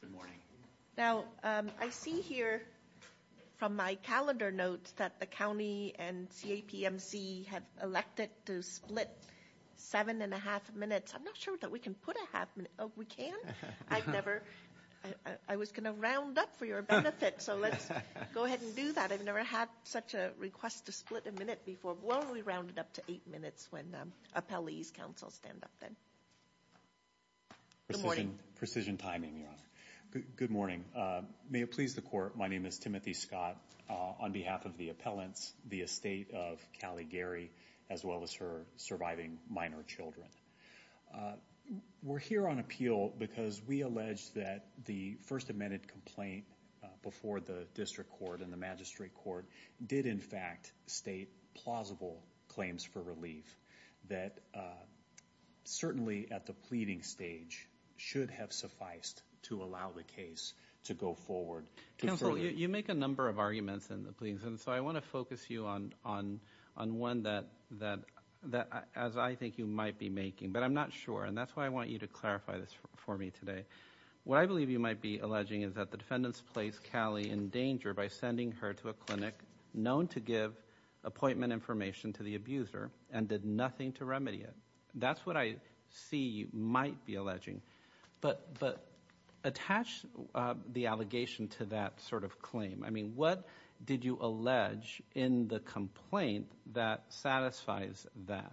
Good morning. Now I see here from my calendar notes that the county and CAPMC have elected to split seven and a half minutes. I'm not sure that we can put a half minute. Oh we can? I've never, I was going to round up for your benefit so let's go ahead and do that. I've never had such a request to split a minute before. Well we rounded up to eight minutes when appellees counsel stand up then. Good morning. Precision timing your honor. Good morning. May it please the court my name is Timothy Scott on behalf of the appellants the estate of Callie Gary as well as her surviving minor children. We're here on appeal because we allege that the first amended complaint before the district court and the magistrate court did in fact state plausible claims for relief that certainly at the pleading stage should have sufficed to allow the case to go forward. Counsel you make a number of arguments in the pleadings and so I want to focus you on one that as I think you might be making but I'm not sure and that's why I want you to clarify this for me today. What I believe you might be alleging is that the defendants placed Callie in danger by sending her to a clinic known to give appointment information to the abuser and did nothing to remedy it. That's what I see you might be alleging but but attach the allegation to that sort of claim. I mean what did you allege in the complaint that satisfies that?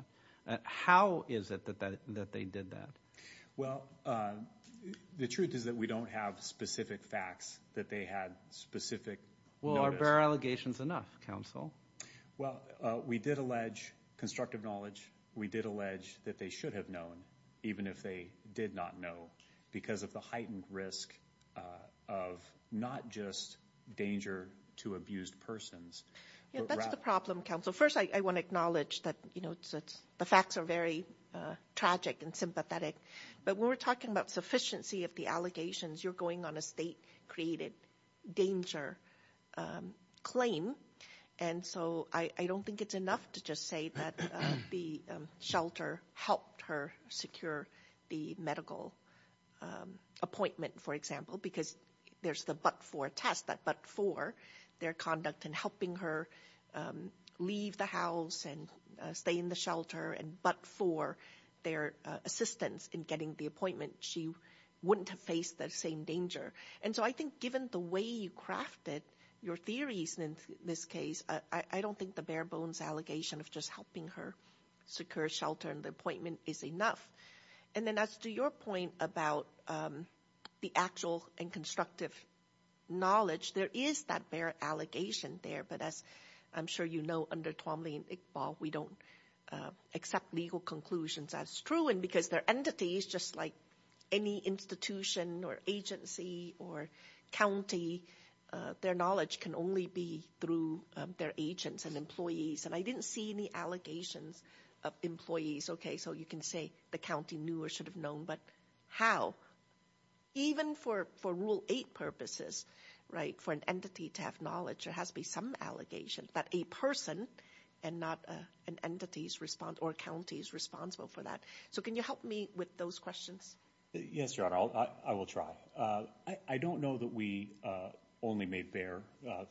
How is it that that that they did that? Well the truth is that we don't have specific facts that they had specific. Well are bare allegations enough counsel? Well we did allege constructive knowledge. We did allege that they should have known even if they did not know because of the heightened risk of not just danger to abused persons. That's the problem counsel. First I want to acknowledge that you know the facts are very tragic and sympathetic but when we're talking about sufficiency of the allegations you're going on a state created danger claim and so I don't think it's enough to just say that the shelter helped her secure the medical appointment for example because there's the but for test that but for their conduct and helping her leave the house and stay in the shelter and but for their assistance in getting the appointment she wouldn't have faced the same danger and so I think given the way you crafted your theories in this case I don't think the bare bones allegation of just helping her secure shelter and the appointment is enough and then as to your point about the actual and constructive knowledge there is that allegation there but as I'm sure you know under we don't accept legal conclusions as true and because their entities just like any institution or agency or county their knowledge can only be through their agents and employees and I didn't see any allegations of employees okay so you can say the county knew or should have known but how even for for rule eight purposes right for an employee to have knowledge there has to be some allegation that a person and not an entity's response or county is responsible for that so can you help me with those questions yes your honor I will try I don't know that we only made bare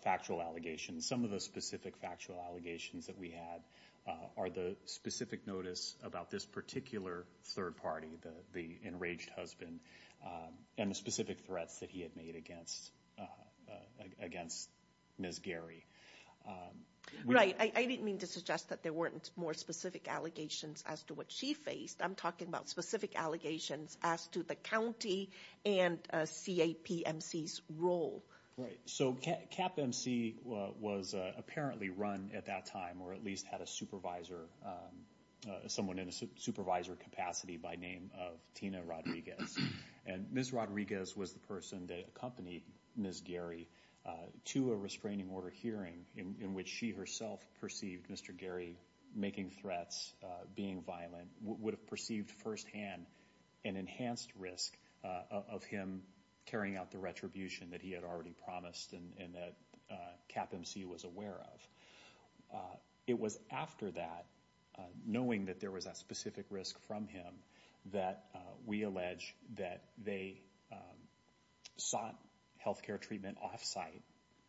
factual allegations some of the specific factual allegations that we had are the specific notice about this particular third party the the enraged husband and the specific threats that he had made against against Ms. Gary right I didn't mean to suggest that there weren't more specific allegations as to what she faced I'm talking about specific allegations as to the county and CAPMC's role right so CAPMC was apparently run at that time or at least had a supervisor someone in a supervisor capacity by name of Tina Rodriguez and Ms. Rodriguez was the person that accompanied Ms. Gary to a restraining order hearing in which she herself perceived Mr. Gary making threats being violent would have perceived firsthand an enhanced risk of him carrying out the retribution that he had already promised and that CAPMC was aware of it was after that knowing that there was a specific risk from him that we allege that they sought health care treatment off-site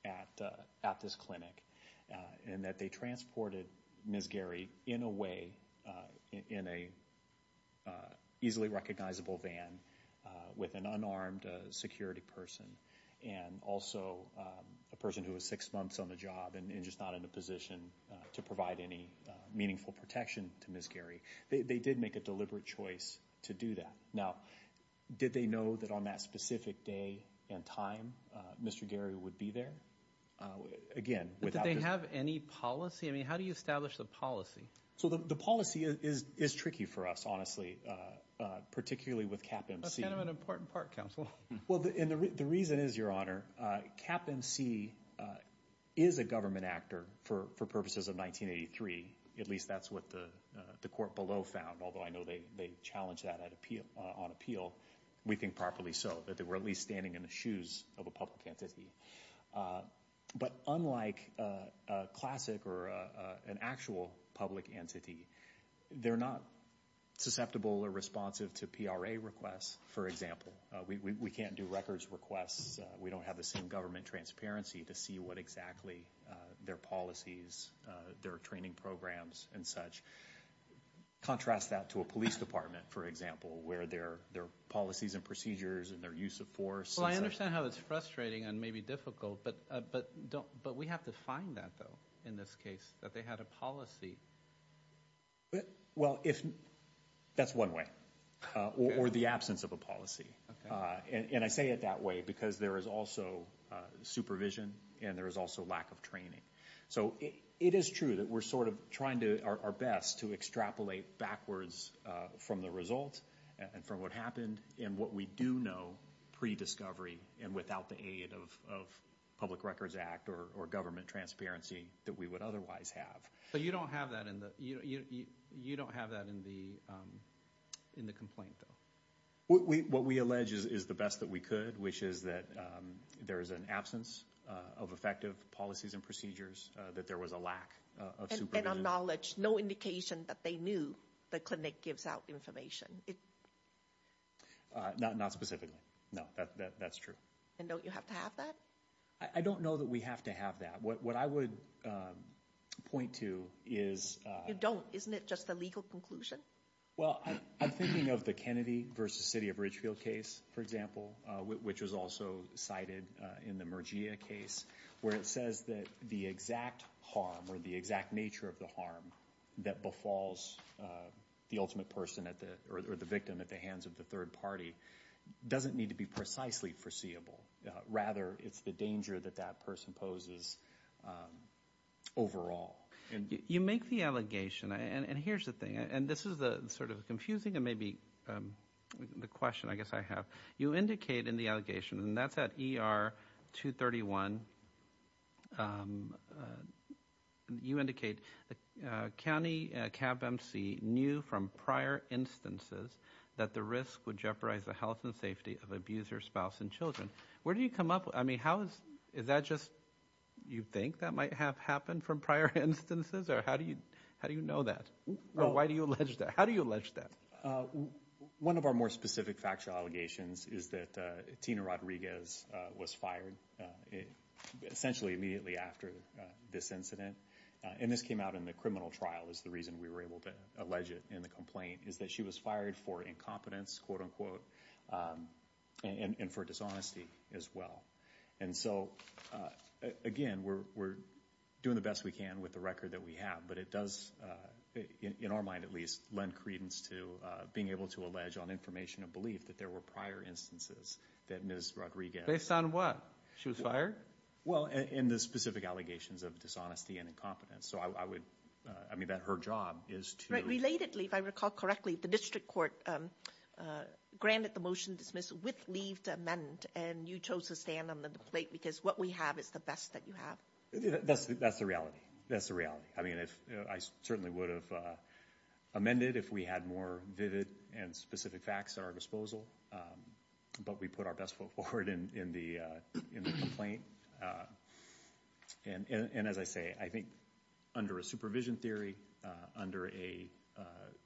at at this clinic and that they transported Ms. Gary in a way in a easily recognizable van with an unarmed security person and also a person who was six months on the job and just not in a position to provide any meaningful protection to Ms. Gary they did make a deliberate choice to do that now did they know that on that specific day and time Mr. Gary would be there again without did they have any policy I mean how do you establish the policy so the policy is is tricky for us honestly particularly with CAPMC that's kind of an important part counsel well the reason is your honor CAPMC is a government actor for for purposes of 1983 at least that's what the the court below found although I know they they challenged that at appeal on appeal we think properly so that they were at least standing in the shoes of a public entity but unlike a classic or an actual public entity they're not susceptible or responsive to PRA requests for example we we can't do records requests we don't have the same government transparency to see what exactly their policies their training programs and such contrast that to a police department for example where their their policies and procedures and their use of force well I understand how it's frustrating and maybe difficult but but don't but we have to find that though in this case that they had a policy well if that's one way or the absence of a policy and I say it that way because there is also supervision and there is also lack of training so it is true that we're sort of trying to our best to extrapolate backwards from the result and from what happened and what we do know pre-discovery and without the aid of public records act or government transparency that we would otherwise have so you don't have that in the you don't have that in the in the complaint though what we what we allege is is the best that we could which is that there is an absence of effective policies and procedures that there was a lack of knowledge no indication that they knew the clinic gives out information it not not specifically no that that's true and don't you have to have that I don't know that we have to have that what I would point to is you don't isn't it just the legal conclusion well I'm thinking of the Kennedy versus city of Ridgefield case for example which was also cited in the merger case where it says that the exact harm or the exact nature of the harm that befalls the ultimate person at the or the victim at the hands of the third party doesn't need to be precisely foreseeable rather it's the danger that that person poses overall and you make the allegation and and here's the thing and this is the sort of confusing and maybe the question I guess I have you indicate in the allegation and that's at er 231 you indicate the county cab mc knew from prior instances that the risk would jeopardize the health and safety of abuser spouse and children where do you come up with I mean how is is that just you think that might have happened from prior instances or how do you how do you know that no why do you allege that how do you allege that uh one of our more specific factual allegations is that tina rodriguez was fired essentially immediately after this incident and this came out in the criminal trial is the reason we were able to allege it in the complaint is that she was fired for incompetence quote-unquote and for dishonesty as well and so again we're we're doing the best we can with the record that we have but it does in our mind at least lend credence to being able to allege on information of belief that there were prior instances that miss rodriguez based on what she was fired well in the specific allegations of dishonesty and incompetence so I would I mean that her job is to relatedly if I recall correctly the district court granted the motion dismiss with leave to amend and you chose to stand on the plate because what we have is the best that you have that's that's the reality that's the reality I mean if I certainly would have amended if we had more vivid and specific facts at our disposal but we put our best foot forward in in the uh in the complaint uh and and as I say I think under a supervision theory uh under a uh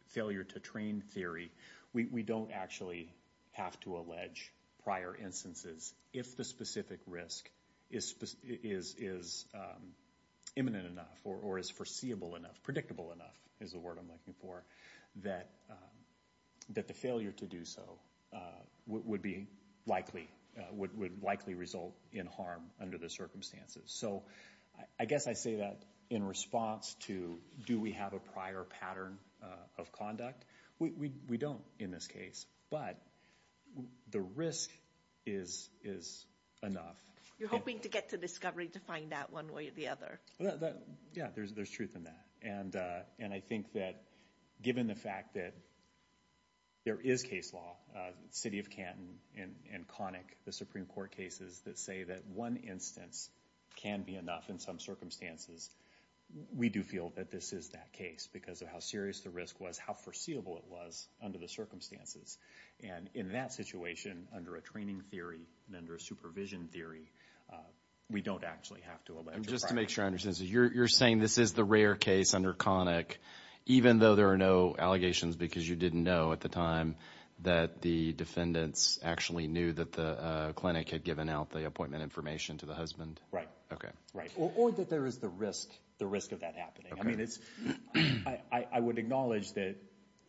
failure to train theory we we don't actually have to allege prior instances if the specific risk is is is um imminent enough or is foreseeable enough predictable enough is the word I'm looking for that um that the failure to do so uh would be likely uh would likely result in harm under the circumstances so I guess I say that in response to do we have a prior pattern uh of we don't in this case but the risk is is enough you're hoping to get to discovery to find that one way or the other that yeah there's there's truth in that and uh and I think that given the fact that there is case law uh city of Canton and and conic the supreme court cases that say that one instance can be enough in some circumstances we do feel that this is that case because of how the risk was how foreseeable it was under the circumstances and in that situation under a training theory and under a supervision theory uh we don't actually have to just to make sure I understand so you're you're saying this is the rare case under conic even though there are no allegations because you didn't know at the time that the defendants actually knew that the uh clinic had given out the appointment information to the husband right okay right or that there is a risk the risk of that happening I mean it's I I would acknowledge that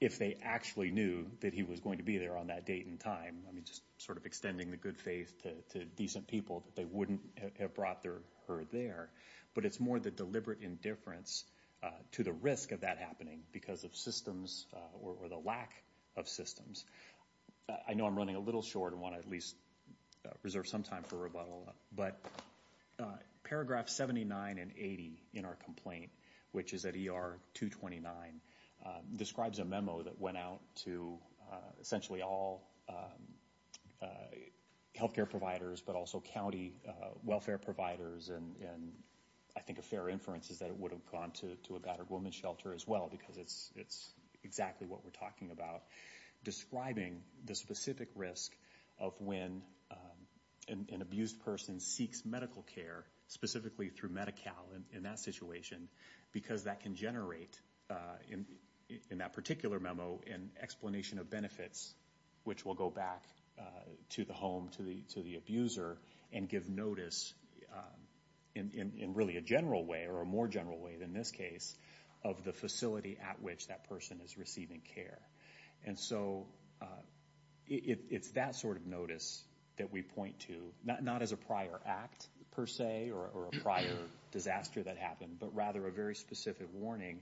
if they actually knew that he was going to be there on that date and time I mean just sort of extending the good faith to decent people that they wouldn't have brought their herd there but it's more the deliberate indifference uh to the risk of that happening because of systems or the lack of systems I know I'm running a little short and want to at least reserve some time for rebuttal but uh paragraph 79 and 80 in our complaint which is at er 229 describes a memo that went out to essentially all health care providers but also county welfare providers and and I think a fair inference is that it would have gone to to a battered woman's shelter as well because it's it's exactly what we're talking about describing the specific risk of when an abused person seeks medical care specifically through Medi-Cal in that situation because that can generate in in that particular memo an explanation of benefits which will go back to the home to the to the abuser and give notice in in really a general way or a more general way than this case of the facility at which that person is receiving care and so it's that sort notice that we point to not not as a prior act per se or a prior disaster that happened but rather a very specific warning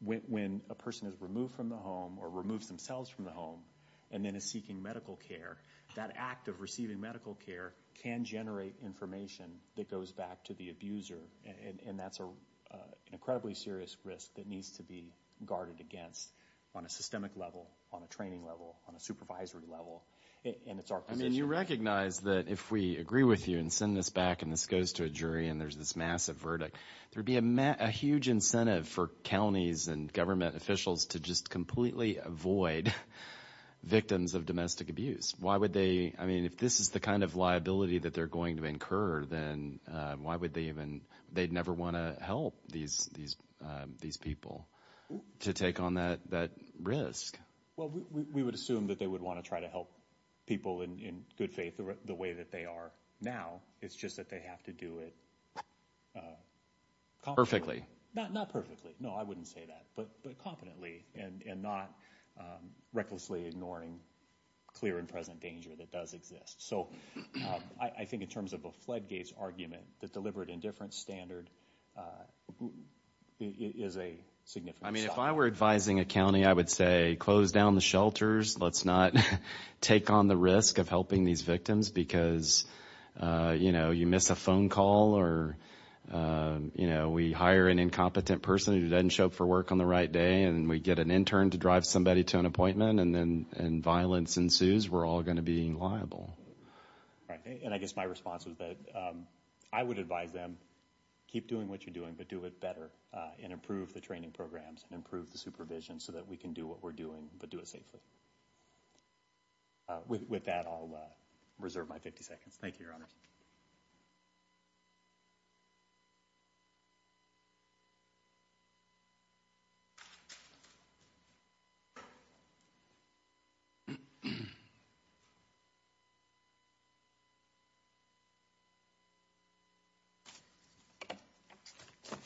when a person is removed from the home or removes themselves from the home and then is seeking medical care that act of receiving medical care can generate information that goes back to the abuser and and that's a incredibly serious risk that needs to be guarded against on a systemic level on a training level on a supervisory level and it's our I mean you recognize that if we agree with you and send this back and this goes to a jury and there's this massive verdict there'd be a huge incentive for counties and government officials to just completely avoid victims of domestic abuse why would they I mean if this is the kind of liability that they're going to incur then why would they even they'd never want to help these these these people to take on that that risk well we would assume that they would want to try to help people in in good faith the way that they are now it's just that they have to do it perfectly not not perfectly no I wouldn't say that but but competently and and not recklessly ignoring clear and present danger that does exist so I think in terms of a floodgates argument that deliberate indifference standard is a significant I mean if I were advising a county I would say close down the shelters let's not take on the risk of helping these victims because you know you miss a phone call or you know we hire an incompetent person who doesn't show up for work on the right day and we get an intern to drive somebody to an appointment and then and violence ensues we're all going to be liable all right and I guess my response was that I would advise them keep doing what you're doing but do it better and improve the training programs and improve the supervision so that we can do what we're doing but do it safely with that I'll reserve my 50 seconds thank you your honors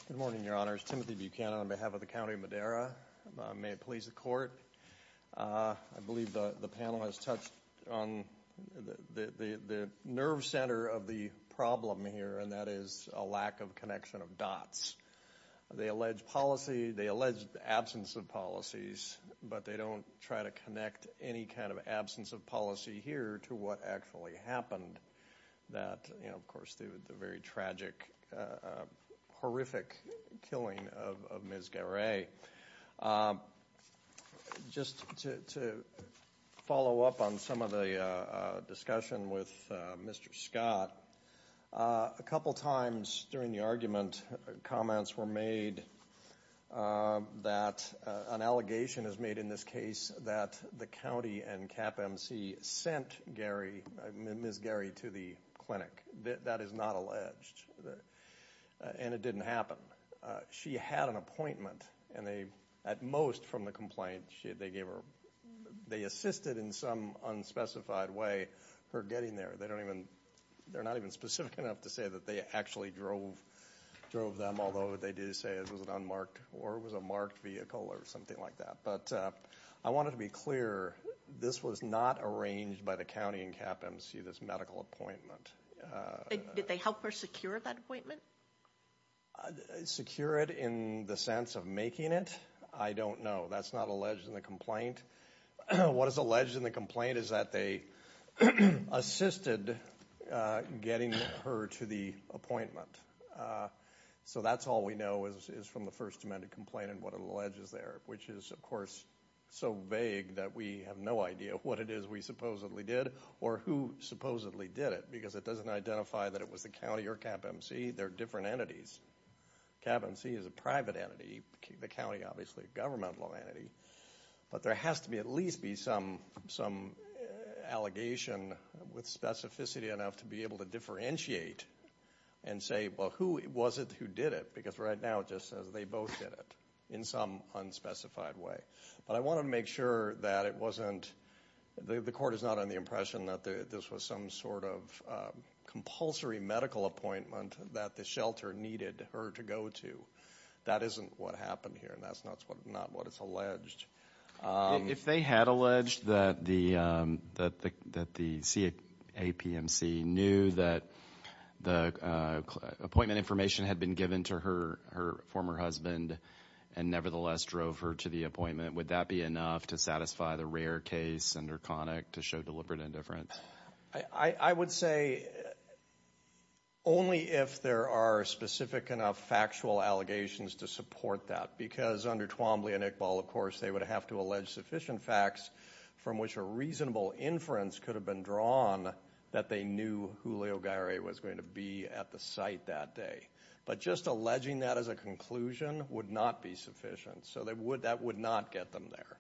good morning your honors timothy buchanan on behalf of the county of madera may it please the court uh I believe the the panel has touched on the the the nerve center of the problem here and that is a lack of connection of dots they allege policy they allege the absence of policies but they don't try to connect any kind of absence of policy here to what actually happened that you know of course the very tragic horrific killing of ms. Garay just to follow up on some of the discussion with mr. Scott a couple times during the argument comments were made that an allegation is made in this case that the county and cap mc sent gary miss gary to the clinic that is not alleged and it didn't happen she had an appointment and they at most from the complaint she they gave her they assisted in some unspecified way her getting there they don't even they're not even specific enough to say that they actually drove drove them although they did say it was an unmarked or was a marked vehicle or something like that but I wanted to be clear this was not arranged by the county and cap mc this medical appointment did they help her secure that appointment secure it in the sense of making it I don't know that's not alleged in the complaint what is alleged in the complaint is that they assisted getting her to the appointment so that's all we know is from the first amendment complaint and what it alleges there which is of course so vague that we have no idea what it is we supposedly did or who supposedly did it because it doesn't identify that it was the county or cap mc there are different entities cap mc is a private entity the county obviously a governmental entity but there has to be at least be some some allegation with specificity enough to be able to differentiate and say well who was it who did it because right now it just says they both did it in some unspecified way but I wanted to make sure that it wasn't the court is not on the impression that this was some sort of compulsory medical appointment that the shelter needed her to go to that isn't what happened here and that's not what it's alleged if they had alleged that the that the that the capmc knew that the appointment information had been given to her her former husband and nevertheless drove her to the appointment would that be enough to satisfy the rare case under conic to show deliberate indifference I would say only if there are specific enough factual allegations to support that because under Twombly and Iqbal of course they would have to allege sufficient facts from which a reasonable inference could have been drawn that they knew Julio Gary was going to be at the site that day but just alleging that as a conclusion would not be sufficient so they would that would not get them there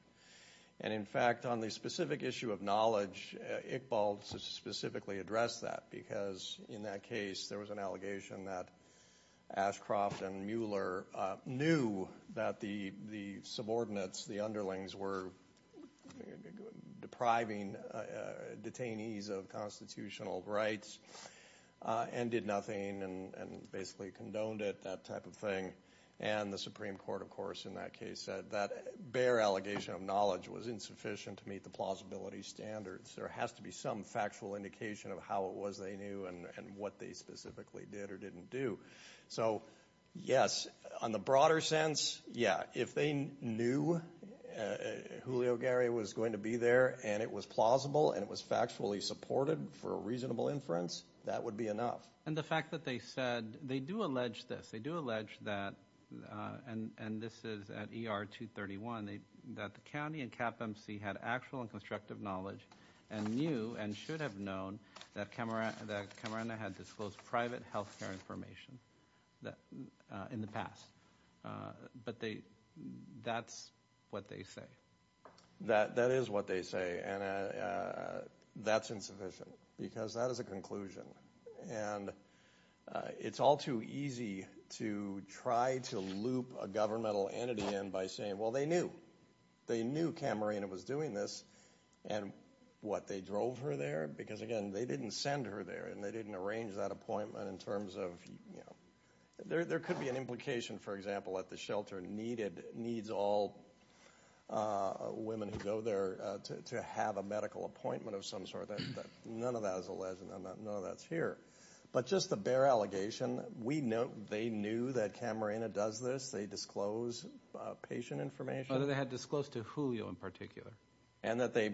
and in fact on the specific issue of knowledge Iqbal specifically addressed that because in that case there was an allegation that Ashcroft and Mueller knew that the the subordinates the underlings were depriving detainees of constitutional rights and did nothing and and basically condoned it that type of thing and the supreme court of course in that case said that bare allegation of knowledge was insufficient to meet the plausibility standards there has to be some factual indication of how it was they knew and what they specifically did or didn't do so yes on the broader sense yeah if they knew Julio Gary was going to be there and it was plausible and it was factually supported for a reasonable inference that would be enough and the fact that they said they do allege this they do allege that and and this is at er 231 they that the county and cap mc had actual and constructive knowledge and knew and should have known that camera that camera had disclosed private health care information that in the past but they that's what they say that that is what they say and that's insufficient because that is a conclusion and it's all too easy to try to loop a governmental entity in by saying well they knew they knew camerina was doing this and what they drove her there because again they didn't send her there and they didn't arrange that appointment in terms of you know there there could be an implication for example at the shelter needed needs all uh women who go there to have a medical appointment of some sort that none of that is a legend i'm not no that's here but just the bare allegation we know they knew that camerina does this they disclose patient information whether they had disclosed to julio in particular and that they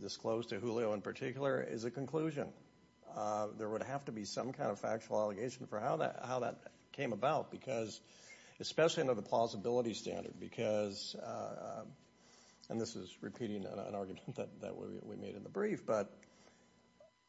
disclosed to julio in particular is a conclusion uh there would have to be some kind of factual allegation for how that how that came about because especially under the plausibility standard because uh and this is repeating an argument that we made in the brief but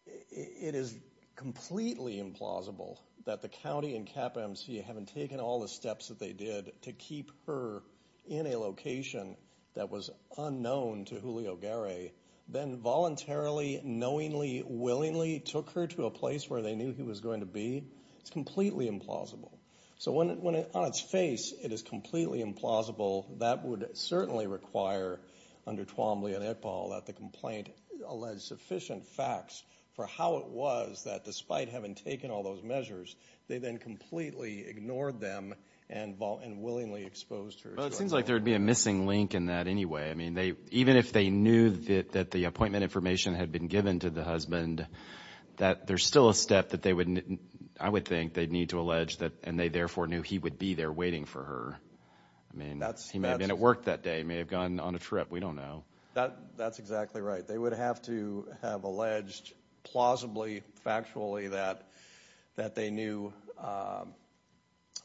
it is completely implausible that the county and cap mc haven't taken all the steps that they did to keep her in a location that was unknown to julio gary then voluntarily knowingly willingly took her to a place where they knew he was going to be it's completely implausible so when when on its face it is completely implausible that would certainly require under twombly and eqbal that the complaint alleged sufficient facts for how it was that despite having taken all those measures they then completely ignored them and vol and willingly exposed her it seems like there would be a missing link in that anyway i mean they even if they knew that that the appointment information had been given to the husband that there's still a step that they wouldn't i would think they'd need to allege that and they therefore knew he would be there waiting for her i mean that's he may have been at work that day may have gone on a trip we don't know that that's exactly right they would have to have alleged plausibly factually that that they knew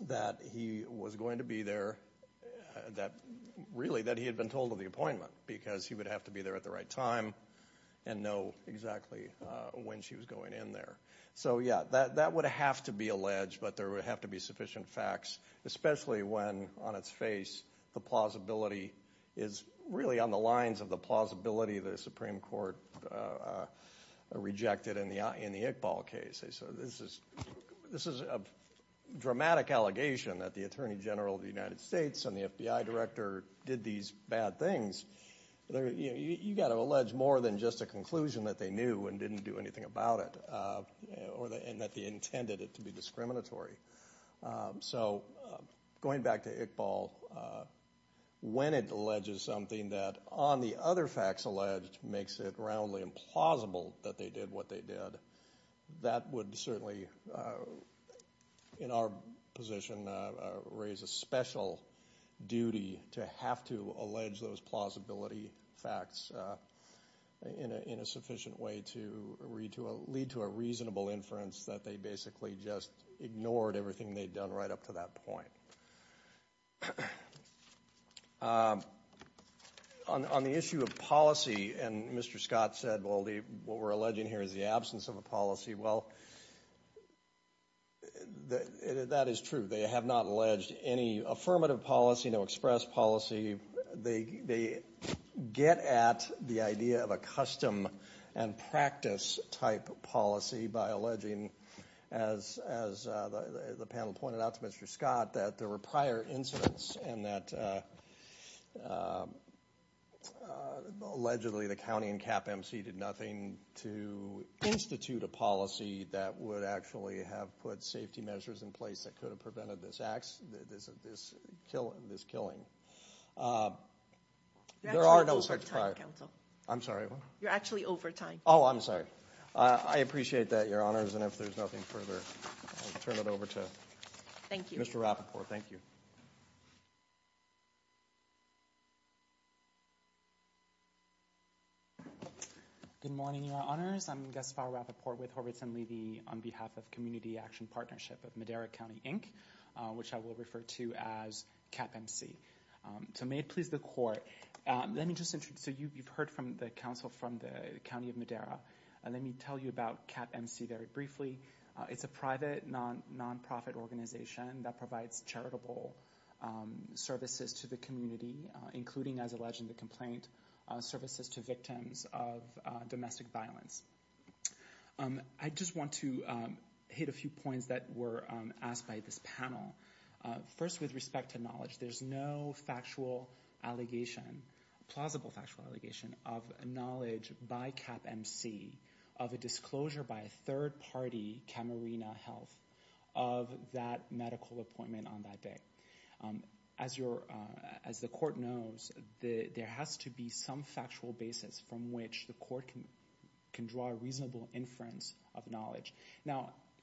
that he was going to be there that really that he had been told of the appointment because he would have to be there at the right time and know exactly uh when she was going in there so yeah that that would have to be alleged but there would have to be sufficient facts especially when on its face the plausibility is really on the lines of the plausibility the supreme court uh rejected in the in the iqbal case so this is this is a dramatic allegation that the attorney general of the united states and the fbi director did these bad things you got to allege more than just a conclusion that they knew and didn't do anything about it or that they intended it to be discriminatory so going back to iqbal when it alleges something that on the other facts alleged makes it roundly implausible that they did what they did that would certainly in our position raise a special duty to have to allege those plausibility facts uh in a in a sufficient way to read to a lead to a reasonable inference that they basically just ignored everything they'd done right up to that point um on on the issue of policy and mr scott said well the what we're alleging here is the absence of a policy well the that is true they have not alleged any affirmative policy no express policy they they get at the idea of a custom and practice type policy by alleging as as the panel pointed out to mr scott that there were prior incidents and that allegedly the county and cap mc did nothing to institute a policy that would actually have put measures in place that could have prevented this acts this this kill this killing uh there are no such time i'm sorry you're actually over time oh i'm sorry i appreciate that your honors and if there's nothing further i'll turn it over to thank you mr rapport thank you good morning your honors i'm gaspar rapport with horvitz and levy on behalf of community action partnership of madera county inc which i will refer to as cap mc so may it please the court um let me just introduce so you've heard from the council from the county of madera and let me tell you about cap mc very briefly it's a private non-profit organization that provides charitable services to the community including as alleged the complaint services to victims of domestic violence i just want to hit a few points that were asked by this panel first with respect to knowledge there's no factual allegation plausible factual allegation of knowledge by cap mc of a disclosure by a third party camarena health of that medical appointment on that day as your as the court knows the there has to be some factual basis from which the court can draw a reasonable inference of knowledge now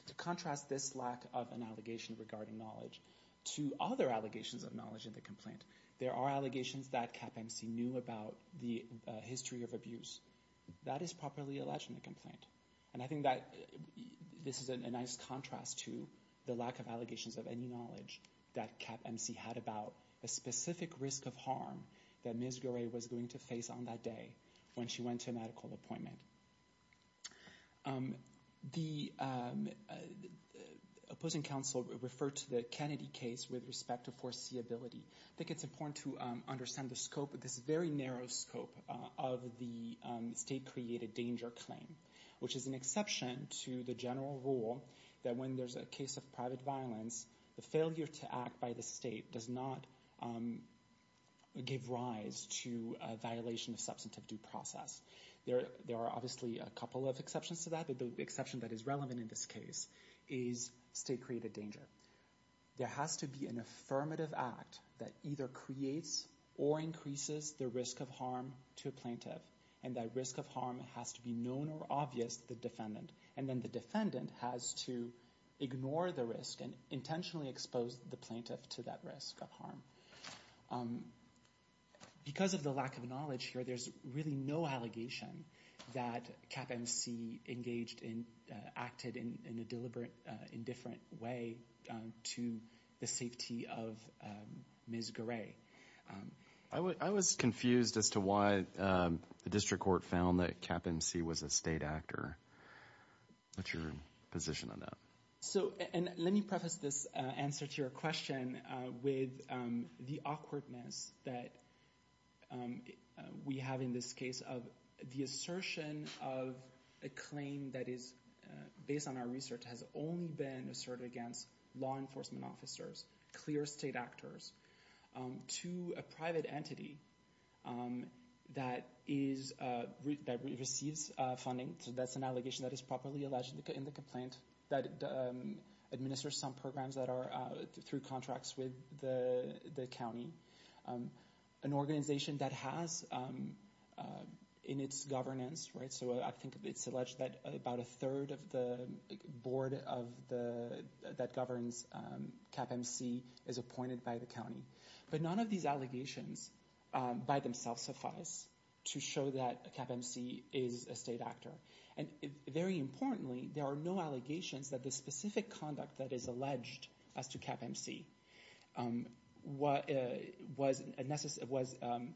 to contrast this lack of an allegation regarding knowledge to other allegations of knowledge in the complaint there are allegations that cap mc knew about the history of abuse that is properly alleged in the complaint and i think that this is a nice contrast to the lack of allegations of any knowledge that cap mc had about a specific risk of that misery was going to face on that day when she went to a medical appointment the opposing council referred to the kennedy case with respect to foreseeability i think it's important to understand the scope of this very narrow scope of the state created danger claim which is an exception to the general rule that when there's a case of private violence the failure to act by the state does not give rise to a violation of substantive due process there there are obviously a couple of exceptions to that but the exception that is relevant in this case is state created danger there has to be an affirmative act that either creates or increases the risk of harm to a plaintiff and that risk of harm has to be known or obvious the defendant and then the defendant has to ignore the risk and intentionally expose the plaintiff to that risk of harm because of the lack of knowledge here there's really no allegation that cap mc engaged in acted in in a deliberate indifferent way to the safety of ms gray i would i was confused as to why the district court found that cap mc was a state actor what's your position on that so and let me preface this answer to your question with the awkwardness that we have in this case of the assertion of a claim that is based on our research has only been asserted against law enforcement officers clear state actors to a private entity that is uh that receives uh funding so that's an allegation that is properly alleged in the complaint that administers some programs that are through contracts with the the county an organization that has um in its governance right so i think it's alleged that about a third of the board of the that governs um cap mc is appointed by the county but none of these allegations by themselves suffice to show that cap mc is a state actor and very importantly there are no allegations that the specific conduct that is alleged as to cap mc um what was a necessary was um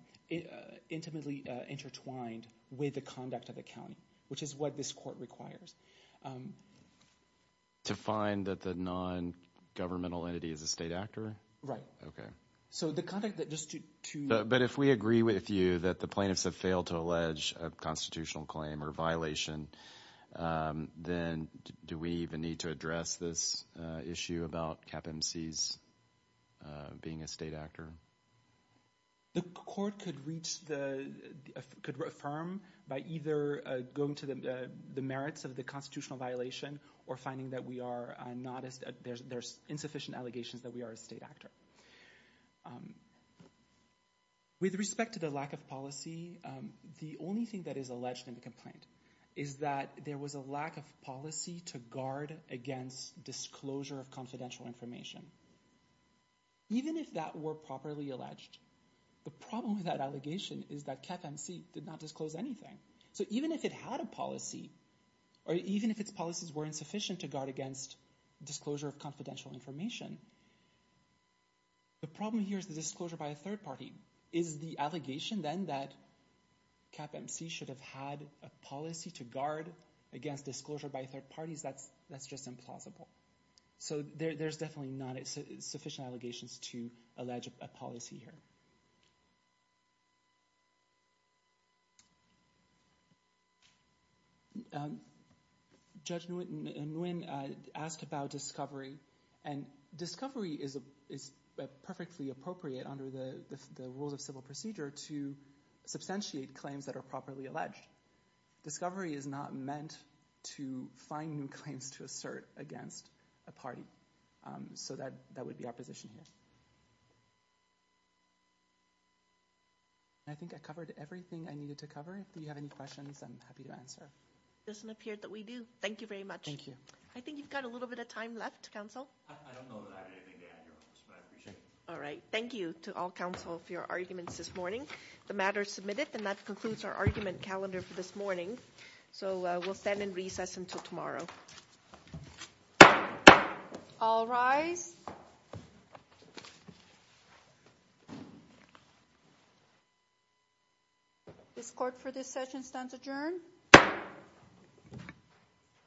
intimately intertwined with the conduct of the county which is what this court requires um to find that the non-governmental entity is a state actor right okay so the conduct that just to but if we agree with you that the plaintiffs have failed to allege a constitutional claim or violation um then do we even need to address this uh issue about cap mcs uh being a state actor the court could reach the could affirm by either uh going to the the merits of the constitutional violation or finding that we are not as there's insufficient allegations that we are a state actor um with respect to the lack of policy um the only thing that is alleged in the complaint is that there was a lack of policy to guard against disclosure of confidential information even if that were properly alleged the problem with that allegation is that cap mc did not disclose anything so even if it had a policy or even if its policies were insufficient to guard against disclosure of confidential information the problem here is the disclosure by a third party is the allegation then that cap mc should have had a policy to guard against disclosure by third parties that's that's just implausible so there's definitely not sufficient allegations to allege a policy here judge nguyen asked about discovery and discovery is a is perfectly appropriate under the the rules of civil procedure to substantiate claims that are properly alleged discovery is not meant to find new claims to assert against a party um so that that would be our position here i think i covered everything i needed to cover do you have any questions i'm happy to answer it doesn't appear that we do thank you very much thank you i think you've got a little bit of time left council i don't know that i have anything to add here but i appreciate it all right thank you to all council for your arguments this morning the matter is submitted and that concludes our calendar for this morning so we'll stand in recess until tomorrow all rise this court for this session stands adjourned